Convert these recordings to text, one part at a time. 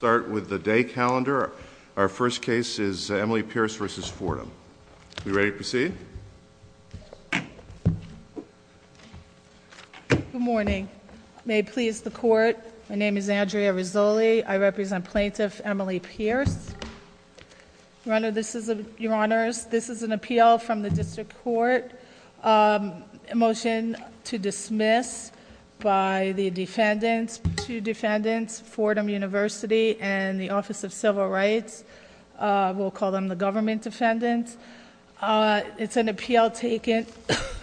calendar. Our first case is Emily Pierce v. Fordham. Are we ready to proceed? Good morning. May it please the Court, my name is Andrea Rizzoli. I represent Plaintiff Emily Pierce. Your Honors, this is an appeal from the District Court, a motion to dismiss by the defendants, two defendants, Fordham University and the Office of Civil Rights. We'll call them the government defendants. It's an appeal taken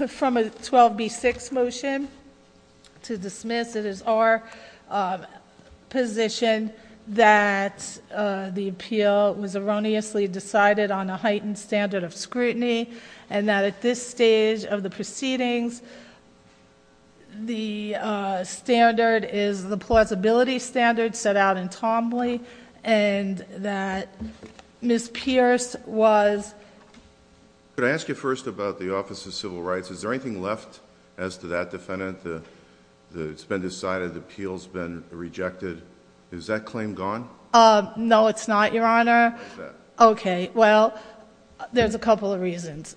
from a 12B6 motion to dismiss. It is our position that the appeal was erroneously decided on a heightened standard of scrutiny, and that at this stage of the proceedings, the standard is the plausibility standard set out in Tomley, and that Ms. Pierce was... Could I ask you first about the Office of Civil Rights? Is there anything left as to that defendant? It's been decided, the appeal's been rejected. Is that claim gone? No, it's not, Your Honor. Okay. Well, there's a couple of reasons.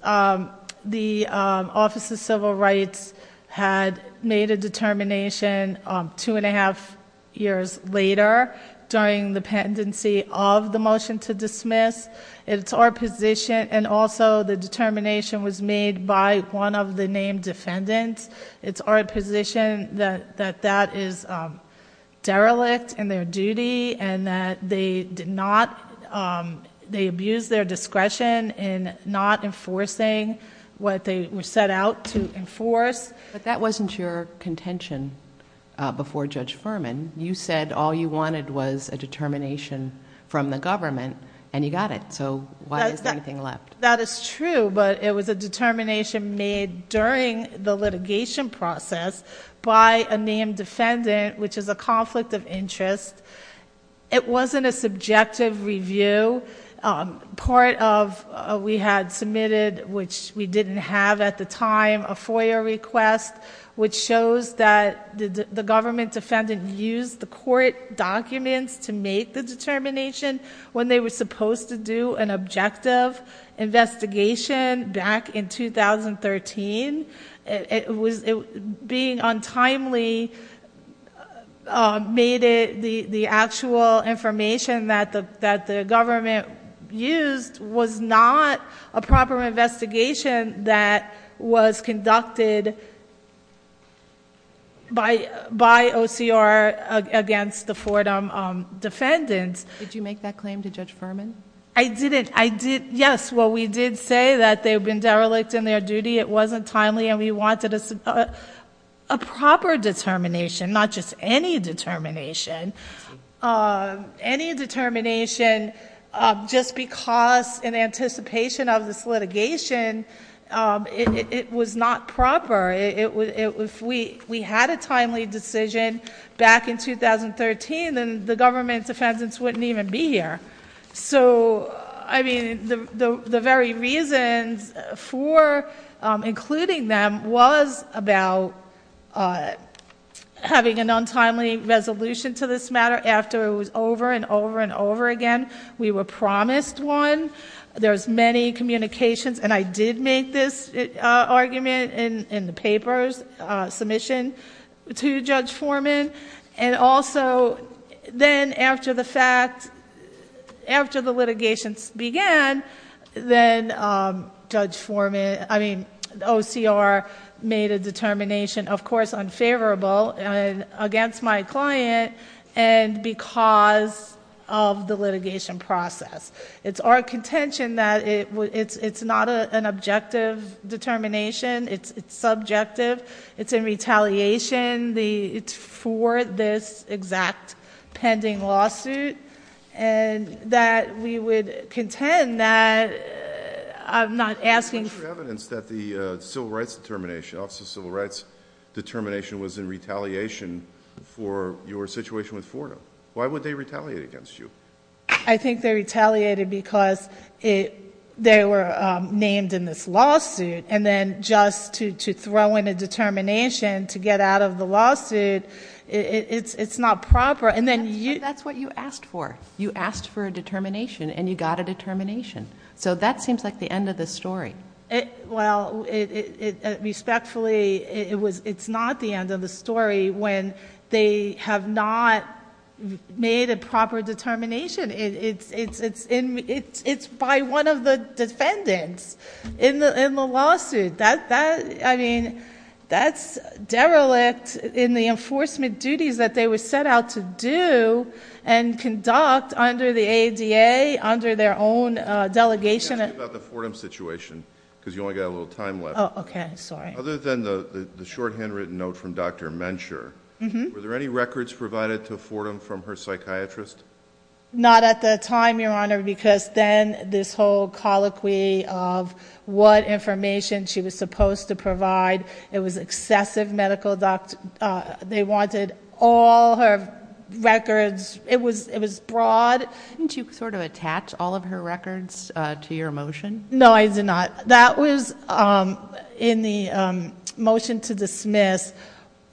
The Office of Civil Rights had made a determination two and a half years later during the pendency of the motion to dismiss. It's our position, and also the determination was made by one of the named defendants. It's our position that that is derelict in their duty, and that they abused their discretion in not enforcing what they were set out to enforce. That wasn't your contention before Judge Furman. You said all you wanted was a determination from the government, and you got it. Why is there anything left? That is true, but it was a determination made during the litigation process by a named defendant, which is a conflict of interest. It wasn't a subjective review. Part of we had submitted, which we didn't have at the time, a FOIA request, which shows that the government defendant used the court documents to make the determination when they were supposed to do an objective investigation back in 2013. Being untimely made it the actual information that the government used was not a proper investigation that was conducted by OCR against the Fordham defendants. Did you make that claim to Judge Furman? I didn't. Yes, we did say that they've been derelict in their duty. It wasn't timely and we wanted a proper determination, not just any determination. Any determination just because in anticipation of this litigation, it was not proper. If we had a timely decision back in 2013, then the government's defendants wouldn't even be here. The very reasons for including them was about having an untimely resolution to this matter after it was over and over and over again. We were promised one. There's many communications, and I did make this argument in the papers, submission to Judge Furman. Also, then after the fact, after the litigation began, then OCR made a determination, of course, unfavorable against my client and because of the litigation process. It's our contention that it's not an objective determination. It's subjective. It's in retaliation. It's for this exact pending lawsuit and that we would contend that I'm not asking for- What's your evidence that the civil rights determination, Office of Civil Rights determination was in retaliation for your situation with Fordham? Why would they retaliate against you? I think they retaliated because they were named in this lawsuit. Then just to throw in a determination to get out of the lawsuit, it's not proper. That's what you asked for. You asked for a determination and you got a determination. That seems like the end of the story. Respectfully, it's not the end of the story when they have not made a proper determination and it's by one of the defendants in the lawsuit. That's derelict in the enforcement duties that they were set out to do and conduct under the ADA, under their own delegation. Let me ask you about the Fordham situation because you only got a little time left. Okay, sorry. Other than the shorthand written note from Dr. Mencher, were there any records provided to Fordham from her psychiatrist? Not at the time, Your Honor, because then this whole colloquy of what information she was supposed to provide. It was excessive medical... They wanted all her records. It was broad. Didn't you sort of attach all of her records to your motion? No, I did not. That was in the motion to dismiss.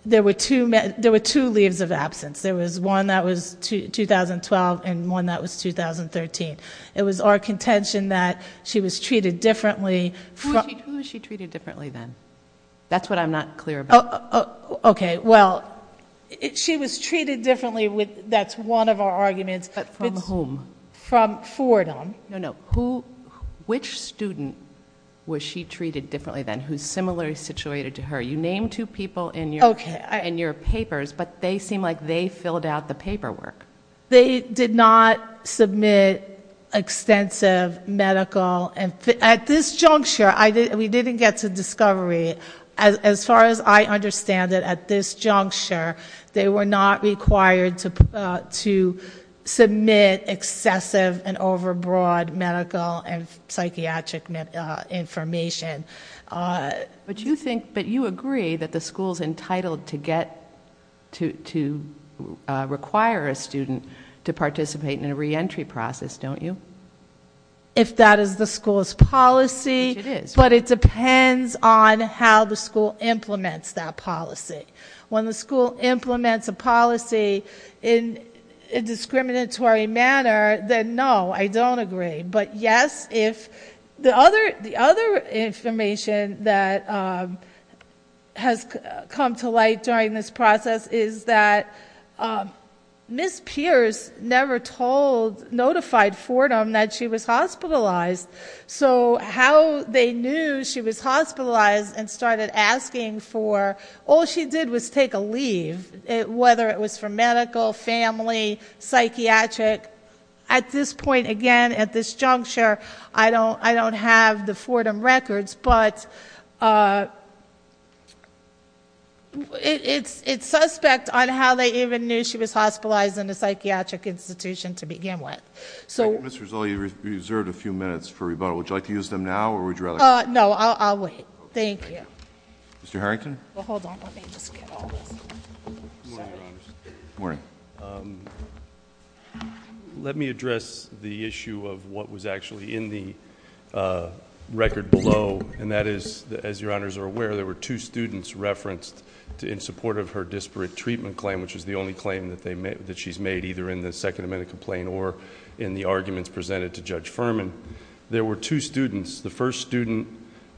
There were two leaves of absence. There were one that was 2012 and one that was 2013. It was our contention that she was treated differently. Who was she treated differently then? That's what I'm not clear about. Okay, well, she was treated differently. That's one of our arguments. From whom? From Fordham. No, no. Which student was she treated differently then who's similarly situated to her? You seem like they filled out the paperwork. They did not submit extensive medical... At this juncture, we didn't get to discovery. As far as I understand it, at this juncture, they were not required to submit excessive and overbroad medical and psychiatric information. But you agree that the school's entitled to require a student to participate in a re-entry process, don't you? If that is the school's policy, but it depends on how the school implements that policy. When the school implements a policy in a discriminatory manner, then no, I don't agree. But yes, the other information that has come to light during this process is that Ms. Pierce never notified Fordham that she was hospitalized. How they knew she was hospitalized and started asking for... All she did was take a leave, whether it was for medical, family, psychiatric. At this point, again, at this juncture, I don't have the Fordham records, but it's suspect on how they even knew she was hospitalized in a psychiatric institution to begin with. Ms. Rizzoli, you've reserved a few minutes for rebuttal. Would you like to use them now or would you rather... No, I'll wait. Thank you. Mr. Harrington? Well, hold on. Let me just get all this. Good morning, Your Honors. Good morning. Let me address the issue of what was actually in the record below, and that is, as Your Honors are aware, there were two students referenced in support of her disparate treatment claim, which is the only claim that she's made, either in the Second Amendment complaint or in the arguments presented to Judge Furman. There were two students. The first student,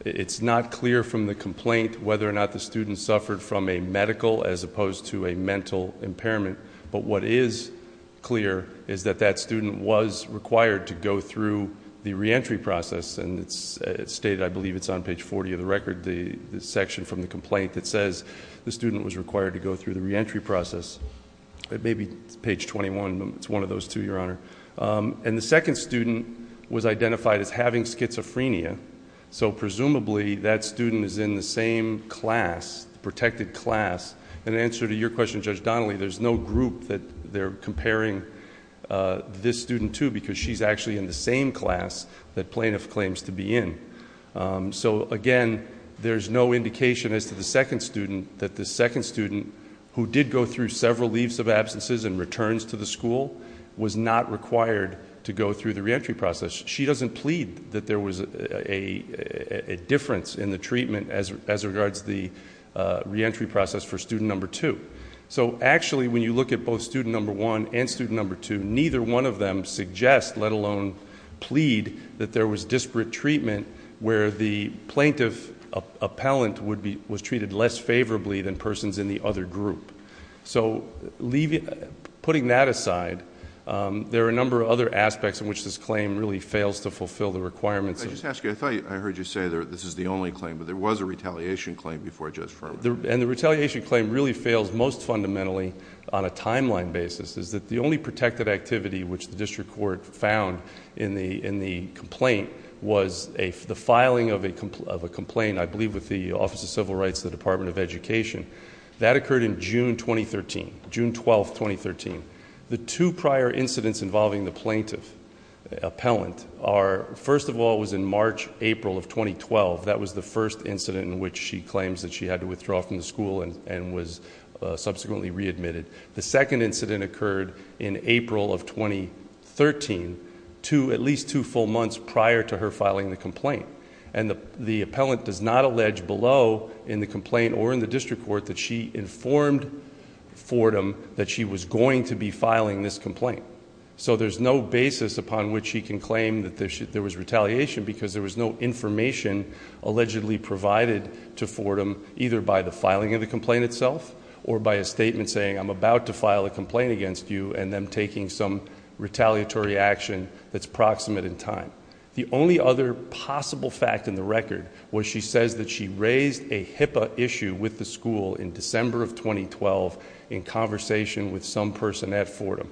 it's not clear from the complaint whether or not the student suffered from a medical as opposed to a mental impairment, but what is clear is that that student was required to go through the reentry process. It's stated, I believe, it's on page 40 of the record, the section from the complaint that says the student was required to go through the reentry process. It may be page 21, but it's one of those two, Your Honor. The second student was identified as having schizophrenia. Presumably, that student is in the same class, protected class. In answer to your question, Judge Donnelly, there's no group that they're comparing this student to because she's actually in the same class that plaintiff claims to be in. Again, there's no indication as to the second student that the second student, who did go through several leaves of absences and returns to the school, was not required to go through the reentry process. She doesn't plead that there was a difference in the treatment as regards the reentry process for student number two. Actually, when you look at both student number one and student number two, neither one of them suggest, let alone plead, that there was disparate treatment where the plaintiff appellant was treated less favorably than persons in the other group. Putting that aside, there are a number of other aspects in which this claim really fails to fulfill the requirements of... I just ask you, I thought I heard you say this is the only claim, but there was a retaliation claim before Judge Ferman. The retaliation claim really fails most fundamentally on a timeline basis. The only protected activity which the district court found in the complaint was the filing of a complaint, I believe, with the Office of Civil Rights, the Department of Education. That occurred in June 2013, June 12, 2013. The two prior incidents involving the plaintiff appellant are, first of all, was in March, April of 2012. That was the first incident in which she claims that she had to withdraw from the school and was subsequently readmitted. The second incident occurred in April of 2013, at least two full months prior to her filing the complaint. The appellant does not allege below in the complaint or in the district court that she informed Fordham that she was going to be filing this complaint. There's no basis upon which she can claim that there was retaliation because there was no information allegedly provided to Fordham either by the filing of the complaint itself or by a statement saying, I'm about to file a complaint against you and them taking some retaliatory action that's proximate in time. The only other possible fact in the record was she says that she raised a HIPAA issue with the school in December of 2012 in conversation with some person at Fordham.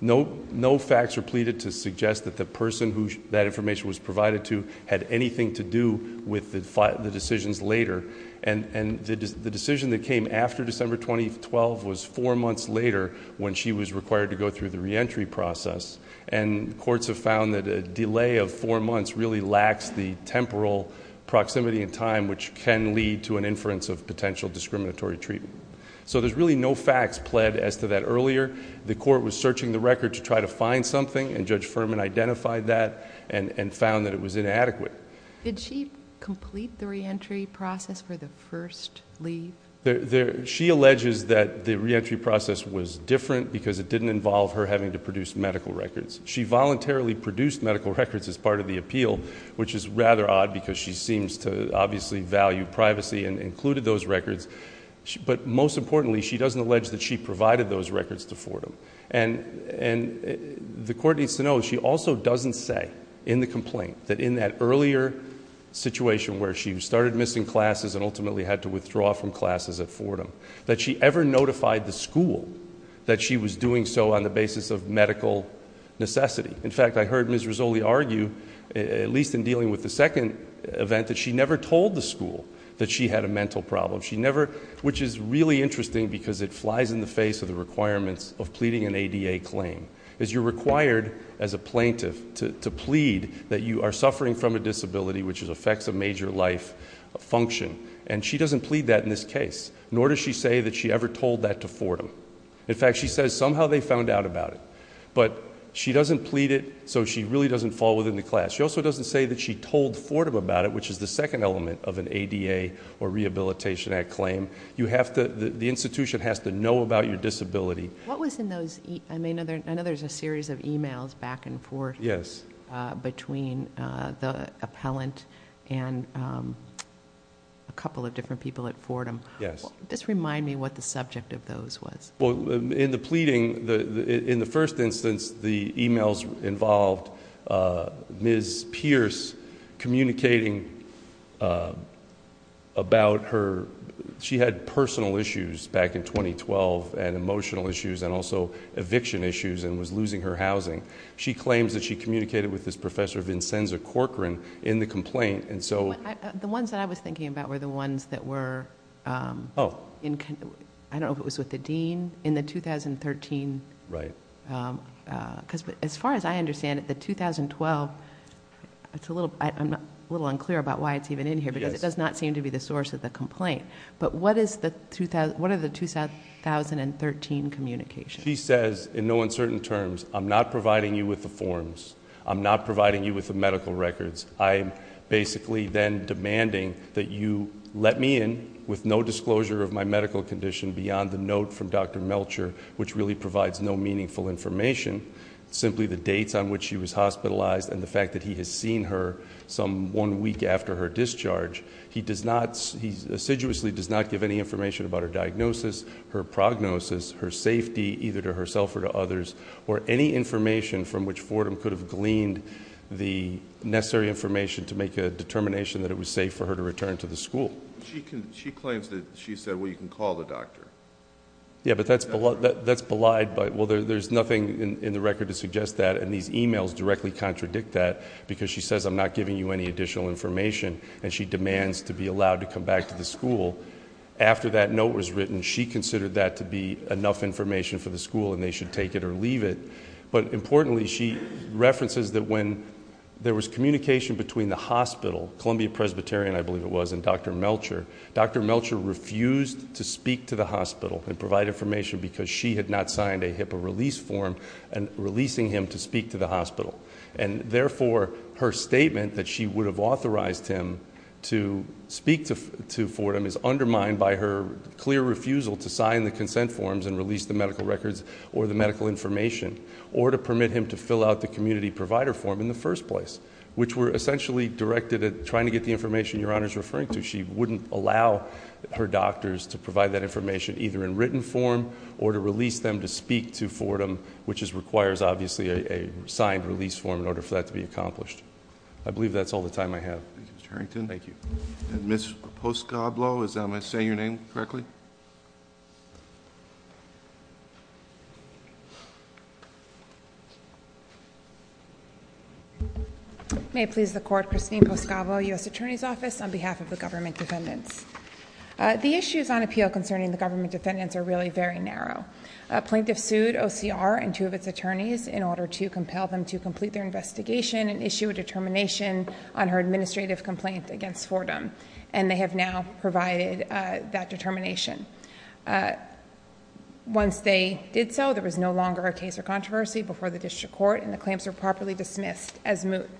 No facts were pleaded to suggest that the person who that information was provided to had anything to do with the decisions later. The decision that came after December 2012 was four months later when she was required to go through the reentry process. Courts have found that a delay of four months really lacks the temporal proximity in time which can lead to an inference of potential discriminatory treatment. There's really no facts pled as to that earlier. The court was searching the record to try to find something and Judge Furman identified that and found that it was inadequate. Did she complete the reentry process for the first leave? She alleges that the reentry process was different because it didn't involve her having to produce medical records. She voluntarily produced medical records as part of the appeal which is rather odd because she seems to obviously value privacy and included those records. But most importantly, she doesn't allege that she provided those records to Fordham. The court needs to know she also doesn't say in the complaint that in that earlier situation where she started missing classes and ultimately had to withdraw from classes at Fordham that she ever notified the school that she was doing so on the basis of medical necessity. In fact, I heard Ms. Rizzoli argue, at least in dealing with the second event, that she never told the school that she had a mental problem. She never, which is really interesting because it flies in the face of the requirements of pleading an ADA claim. As you're required as a plaintiff to plead that you are suffering from a disability which affects a major life function. And she doesn't plead that in this case, nor does she say that she ever told that to Fordham. In fact, she says somehow they found out about it. But she doesn't plead it, so she really doesn't fall within the class. She also doesn't say that she told Fordham about it, which is the second element of an ADA or Rehabilitation Act claim. You have to, the institution has to know about your disability. What was in those, I know there's a series of emails back and forth. Yes. Between the appellant and a couple of different people at Fordham. Yes. This remind me what the subject of those was. Well, in the pleading, in the first instance, the emails involved Ms. Pierce communicating about her, she had personal issues back in 2012, and emotional issues, and also eviction issues, and was losing her housing. She claims that she communicated with this professor, Vincenza Corcoran, in the complaint, and so- The ones that I was thinking about were the ones that were, I don't know if it was with the dean, in the 2013. Right. As far as I understand it, the 2012, I'm a little unclear about why it's even in here, because it does not seem to be the source of the complaint, but what are the 2013 communications? She says, in no uncertain terms, I'm not providing you with the forms. I'm not providing you with the medical records. I'm basically then demanding that you let me in with no disclosure of my medical condition beyond the note from Dr. Melcher, which really provides no meaningful information, simply the dates on which she was hospitalized and the fact that he has seen her some one week after her discharge. He assiduously does not give any information about her diagnosis, her prognosis, her safety, either to herself or to others, or any information from which Fordham could have gleaned the necessary information to make a determination that it was safe for her to return to the school. She claims that she said, well, you can call the doctor. Yeah, but that's belied by, well, there's nothing in the record to suggest that, and these emails directly contradict that, because she says I'm not giving you any additional information, and she demands to be allowed to come back to the school. After that note was written, she considered that to be enough information for the school, and they should take it or leave it. But importantly, she references that when there was communication between the hospital, Columbia Presbyterian, I believe it was, and Dr. Melcher. Dr. Melcher refused to speak to the hospital and provide information because she had not signed a HIPAA release form, and releasing him to speak to the hospital. And therefore, her statement that she would have authorized him to speak to Fordham is undermined by her clear refusal to sign the consent forms and release the medical records or the medical information. Or to permit him to fill out the community provider form in the first place, which were essentially directed at trying to get the information your honor's referring to. She wouldn't allow her doctors to provide that information either in written form or to release them to speak to Fordham, which requires obviously a signed release form in order for that to be accomplished. I believe that's all the time I have. Thank you, Mr. Harrington. Thank you. And Ms. Poscoblo, is that how I'm going to say your name correctly? May it please the court, Christine Poscoblo, US Attorney's Office on behalf of the government defendants. The issues on appeal concerning the government defendants are really very narrow. A plaintiff sued OCR and two of its attorneys in order to compel them to complete their investigation and issue a determination on her administrative complaint against Fordham. And they have now provided that determination. Once they did so, there was no longer a case or controversy before the district court and the claims were properly dismissed as moot.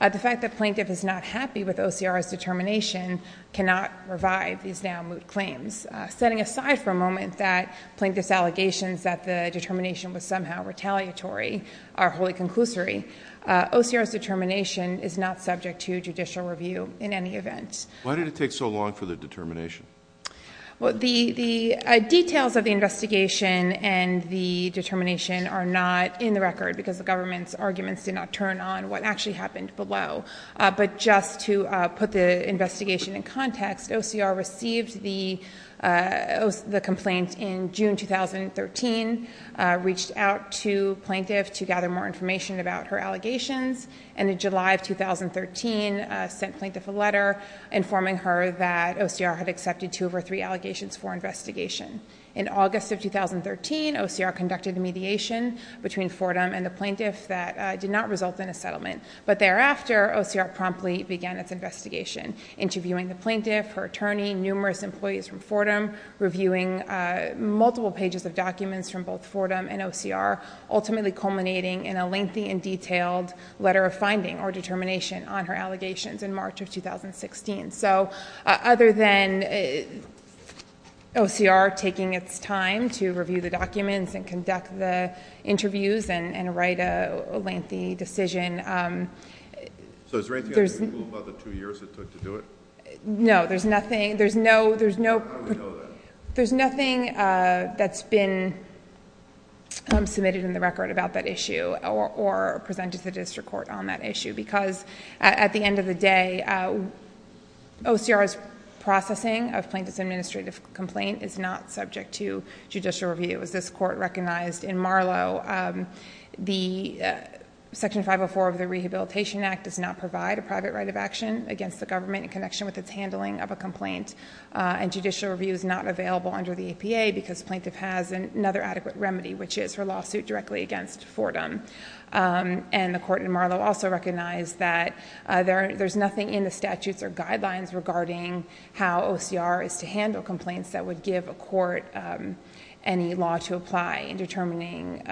The fact that plaintiff is not happy with OCR's determination cannot revive these now moot claims. Setting aside for a moment that plaintiff's allegations that the determination was somehow retaliatory are wholly conclusory. OCR's determination is not subject to judicial review in any event. Why did it take so long for the determination? Well, the details of the investigation and the determination are not in the record, because the government's arguments did not turn on what actually happened below. But just to put the investigation in context, OCR received the complaint in June, 2013. Reached out to plaintiff to gather more information about her allegations. And in July of 2013, sent plaintiff a letter informing her that OCR had accepted two of her three allegations for investigation. In August of 2013, OCR conducted a mediation between Fordham and the plaintiff that did not result in a settlement. But thereafter, OCR promptly began its investigation. Interviewing the plaintiff, her attorney, numerous employees from Fordham. Reviewing multiple pages of documents from both Fordham and OCR. Ultimately culminating in a lengthy and detailed letter of finding or determination on her allegations in March of 2016. So other than OCR taking its time to review the documents and conduct the interviews and write a lengthy decision. So is there anything I can do about the two years it took to do it? No, there's nothing. There's no- How do we know that? There's nothing that's been submitted in the record about that issue or presented to the district court on that issue because at the end of the day, OCR's processing of plaintiff's administrative complaint is not subject to judicial review. As this court recognized in Marlow, the section 504 of the Rehabilitation Act does not provide a private right of action against the government in connection with its handling of a complaint. And judicial review is not available under the APA because plaintiff has another adequate remedy, which is her lawsuit directly against Fordham. And the court in Marlow also recognized that there's nothing in the statutes or guidelines regarding how OCR is to handle complaints that would give a court any law to apply in determining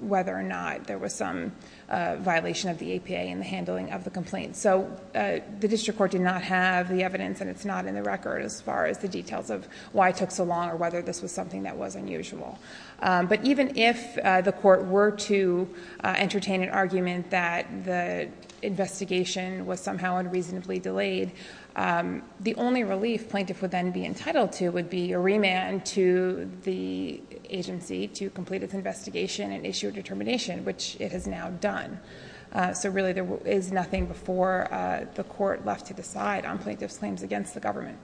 whether or not there was some violation of the APA in the handling of the complaint. So the district court did not have the evidence and it's not in the record as far as the details of why it took so long or whether this was something that was unusual. But even if the court were to entertain an argument that the investigation was somehow unreasonably delayed, the only relief plaintiff would then be entitled to would be a remand to the agency to complete its investigation and issue a determination, which it has now done. So really, there is nothing before the court left to decide on plaintiff's claims against the government.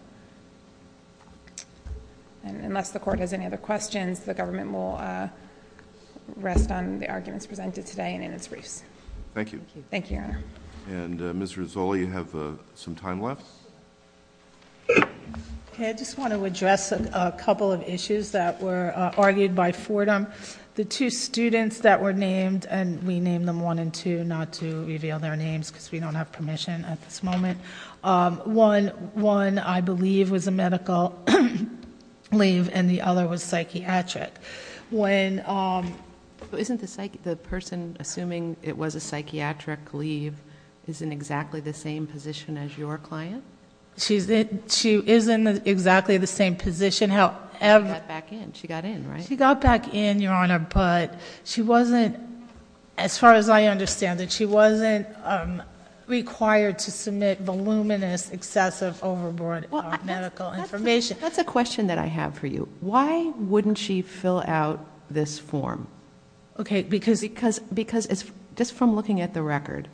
And unless the court has any other questions, the government will rest on the arguments presented today and in its briefs. Thank you. Thank you, Your Honor. And Ms. Rizzoli, you have some time left. Okay, I just want to address a couple of issues that were argued by Fordham. The two students that were named, and we named them one and two, not to reveal their names because we don't have permission at this moment. One, I believe, was a medical leave and the other was psychiatric. When- Isn't the person assuming it was a psychiatric leave is in exactly the same position as your client? She's in, she is in exactly the same position, however- She got back in, she got in, right? She got back in, Your Honor, but she wasn't, as far as I understand it, she wasn't required to submit voluminous, excessive, overboard medical information. That's a question that I have for you. Why wouldn't she fill out this form? Okay, because- Because just from looking at the record,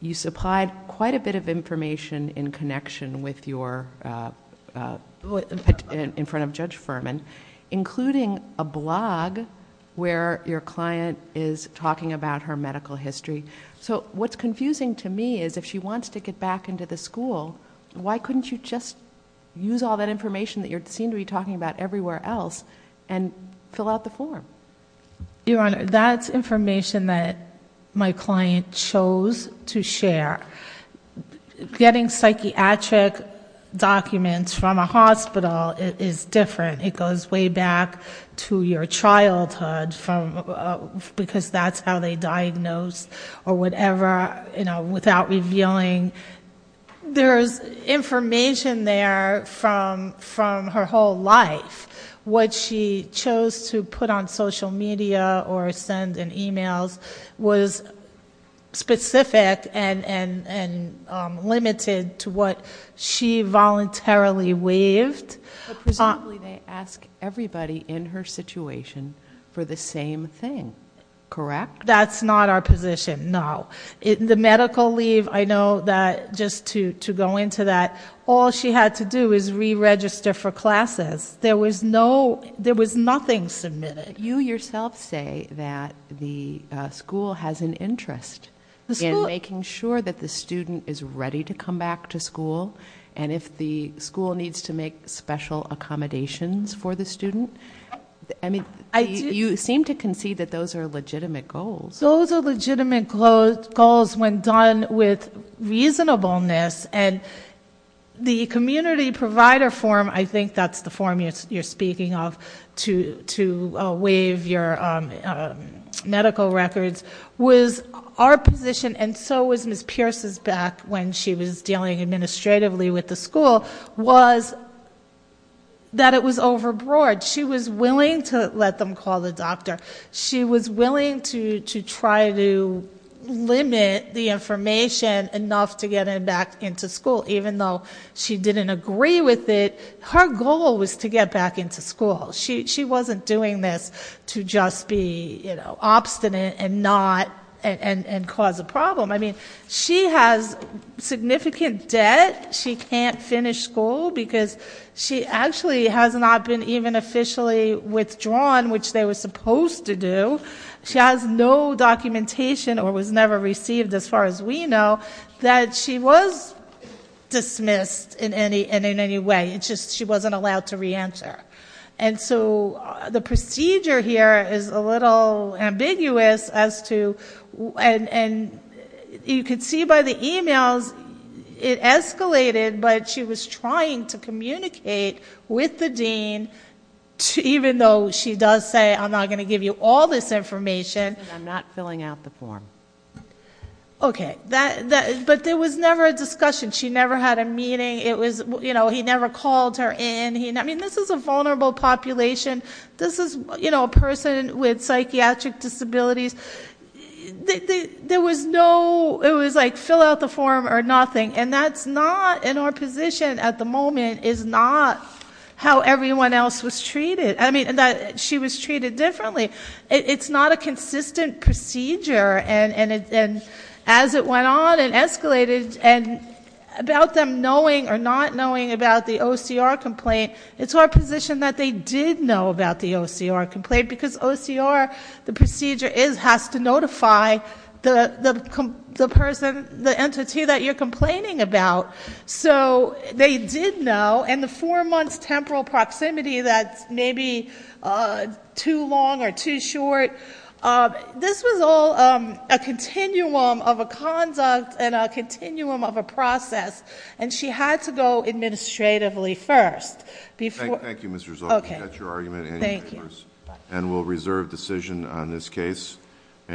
you supplied quite a bit of information in connection with your, in front of Judge Furman, including a blog where your client is talking about her medical history. So what's confusing to me is if she wants to get back into the school, why couldn't you just use all that information that you seem to be talking about everywhere else and fill out the form? Your Honor, that's information that my client chose to share. Getting psychiatric documents from a hospital is different. It goes way back to your childhood, because that's how they diagnose or whatever, without revealing. There's information there from her whole life. What she chose to put on social media or send in emails was specific, and limited to what she voluntarily waived. Presumably they ask everybody in her situation for the same thing, correct? That's not our position, no. In the medical leave, I know that just to go into that, all she had to do is re-register for classes. There was nothing submitted. You yourself say that the school has an interest in making sure that the student is ready to come back to school. And if the school needs to make special accommodations for the student. I mean, you seem to concede that those are legitimate goals. Those are legitimate goals when done with reasonableness. And the community provider form, I think that's the form you're speaking of, to waive your medical records, was our position. And so was Ms. Pierce's back when she was dealing administratively with the school, was that it was overbroad. She was willing to let them call the doctor. She was willing to try to limit the information enough to get her back into school. Even though she didn't agree with it, her goal was to get back into school. She wasn't doing this to just be obstinate and cause a problem. I mean, she has significant debt. She can't finish school because she actually has not been even officially withdrawn, which they were supposed to do. She has no documentation or was never received as far as we know. That she was dismissed in any way, it's just she wasn't allowed to re-answer. And so the procedure here is a little ambiguous as to, and you can see by the emails, it escalated. But she was trying to communicate with the dean, even though she does say I'm not going to give you all this information. And I'm not filling out the form. Okay, but there was never a discussion. She never had a meeting. It was, he never called her in. I mean, this is a vulnerable population. This is a person with psychiatric disabilities. There was no, it was like fill out the form or nothing. And that's not, in our position at the moment, is not how everyone else was treated. I mean, she was treated differently. It's not a consistent procedure. And as it went on and escalated, and about them knowing or not knowing about the OCR complaint. It's our position that they did know about the OCR complaint. Because OCR, the procedure is, has to notify the entity that you're complaining about. So they did know, and the four months temporal proximity, that's maybe too long or too short. This was all a continuum of a conduct and a continuum of a process. And she had to go administratively first. Thank you, Ms. Rizzo. Okay. That's your argument anyway. Thank you. And we'll reserve decision on this case.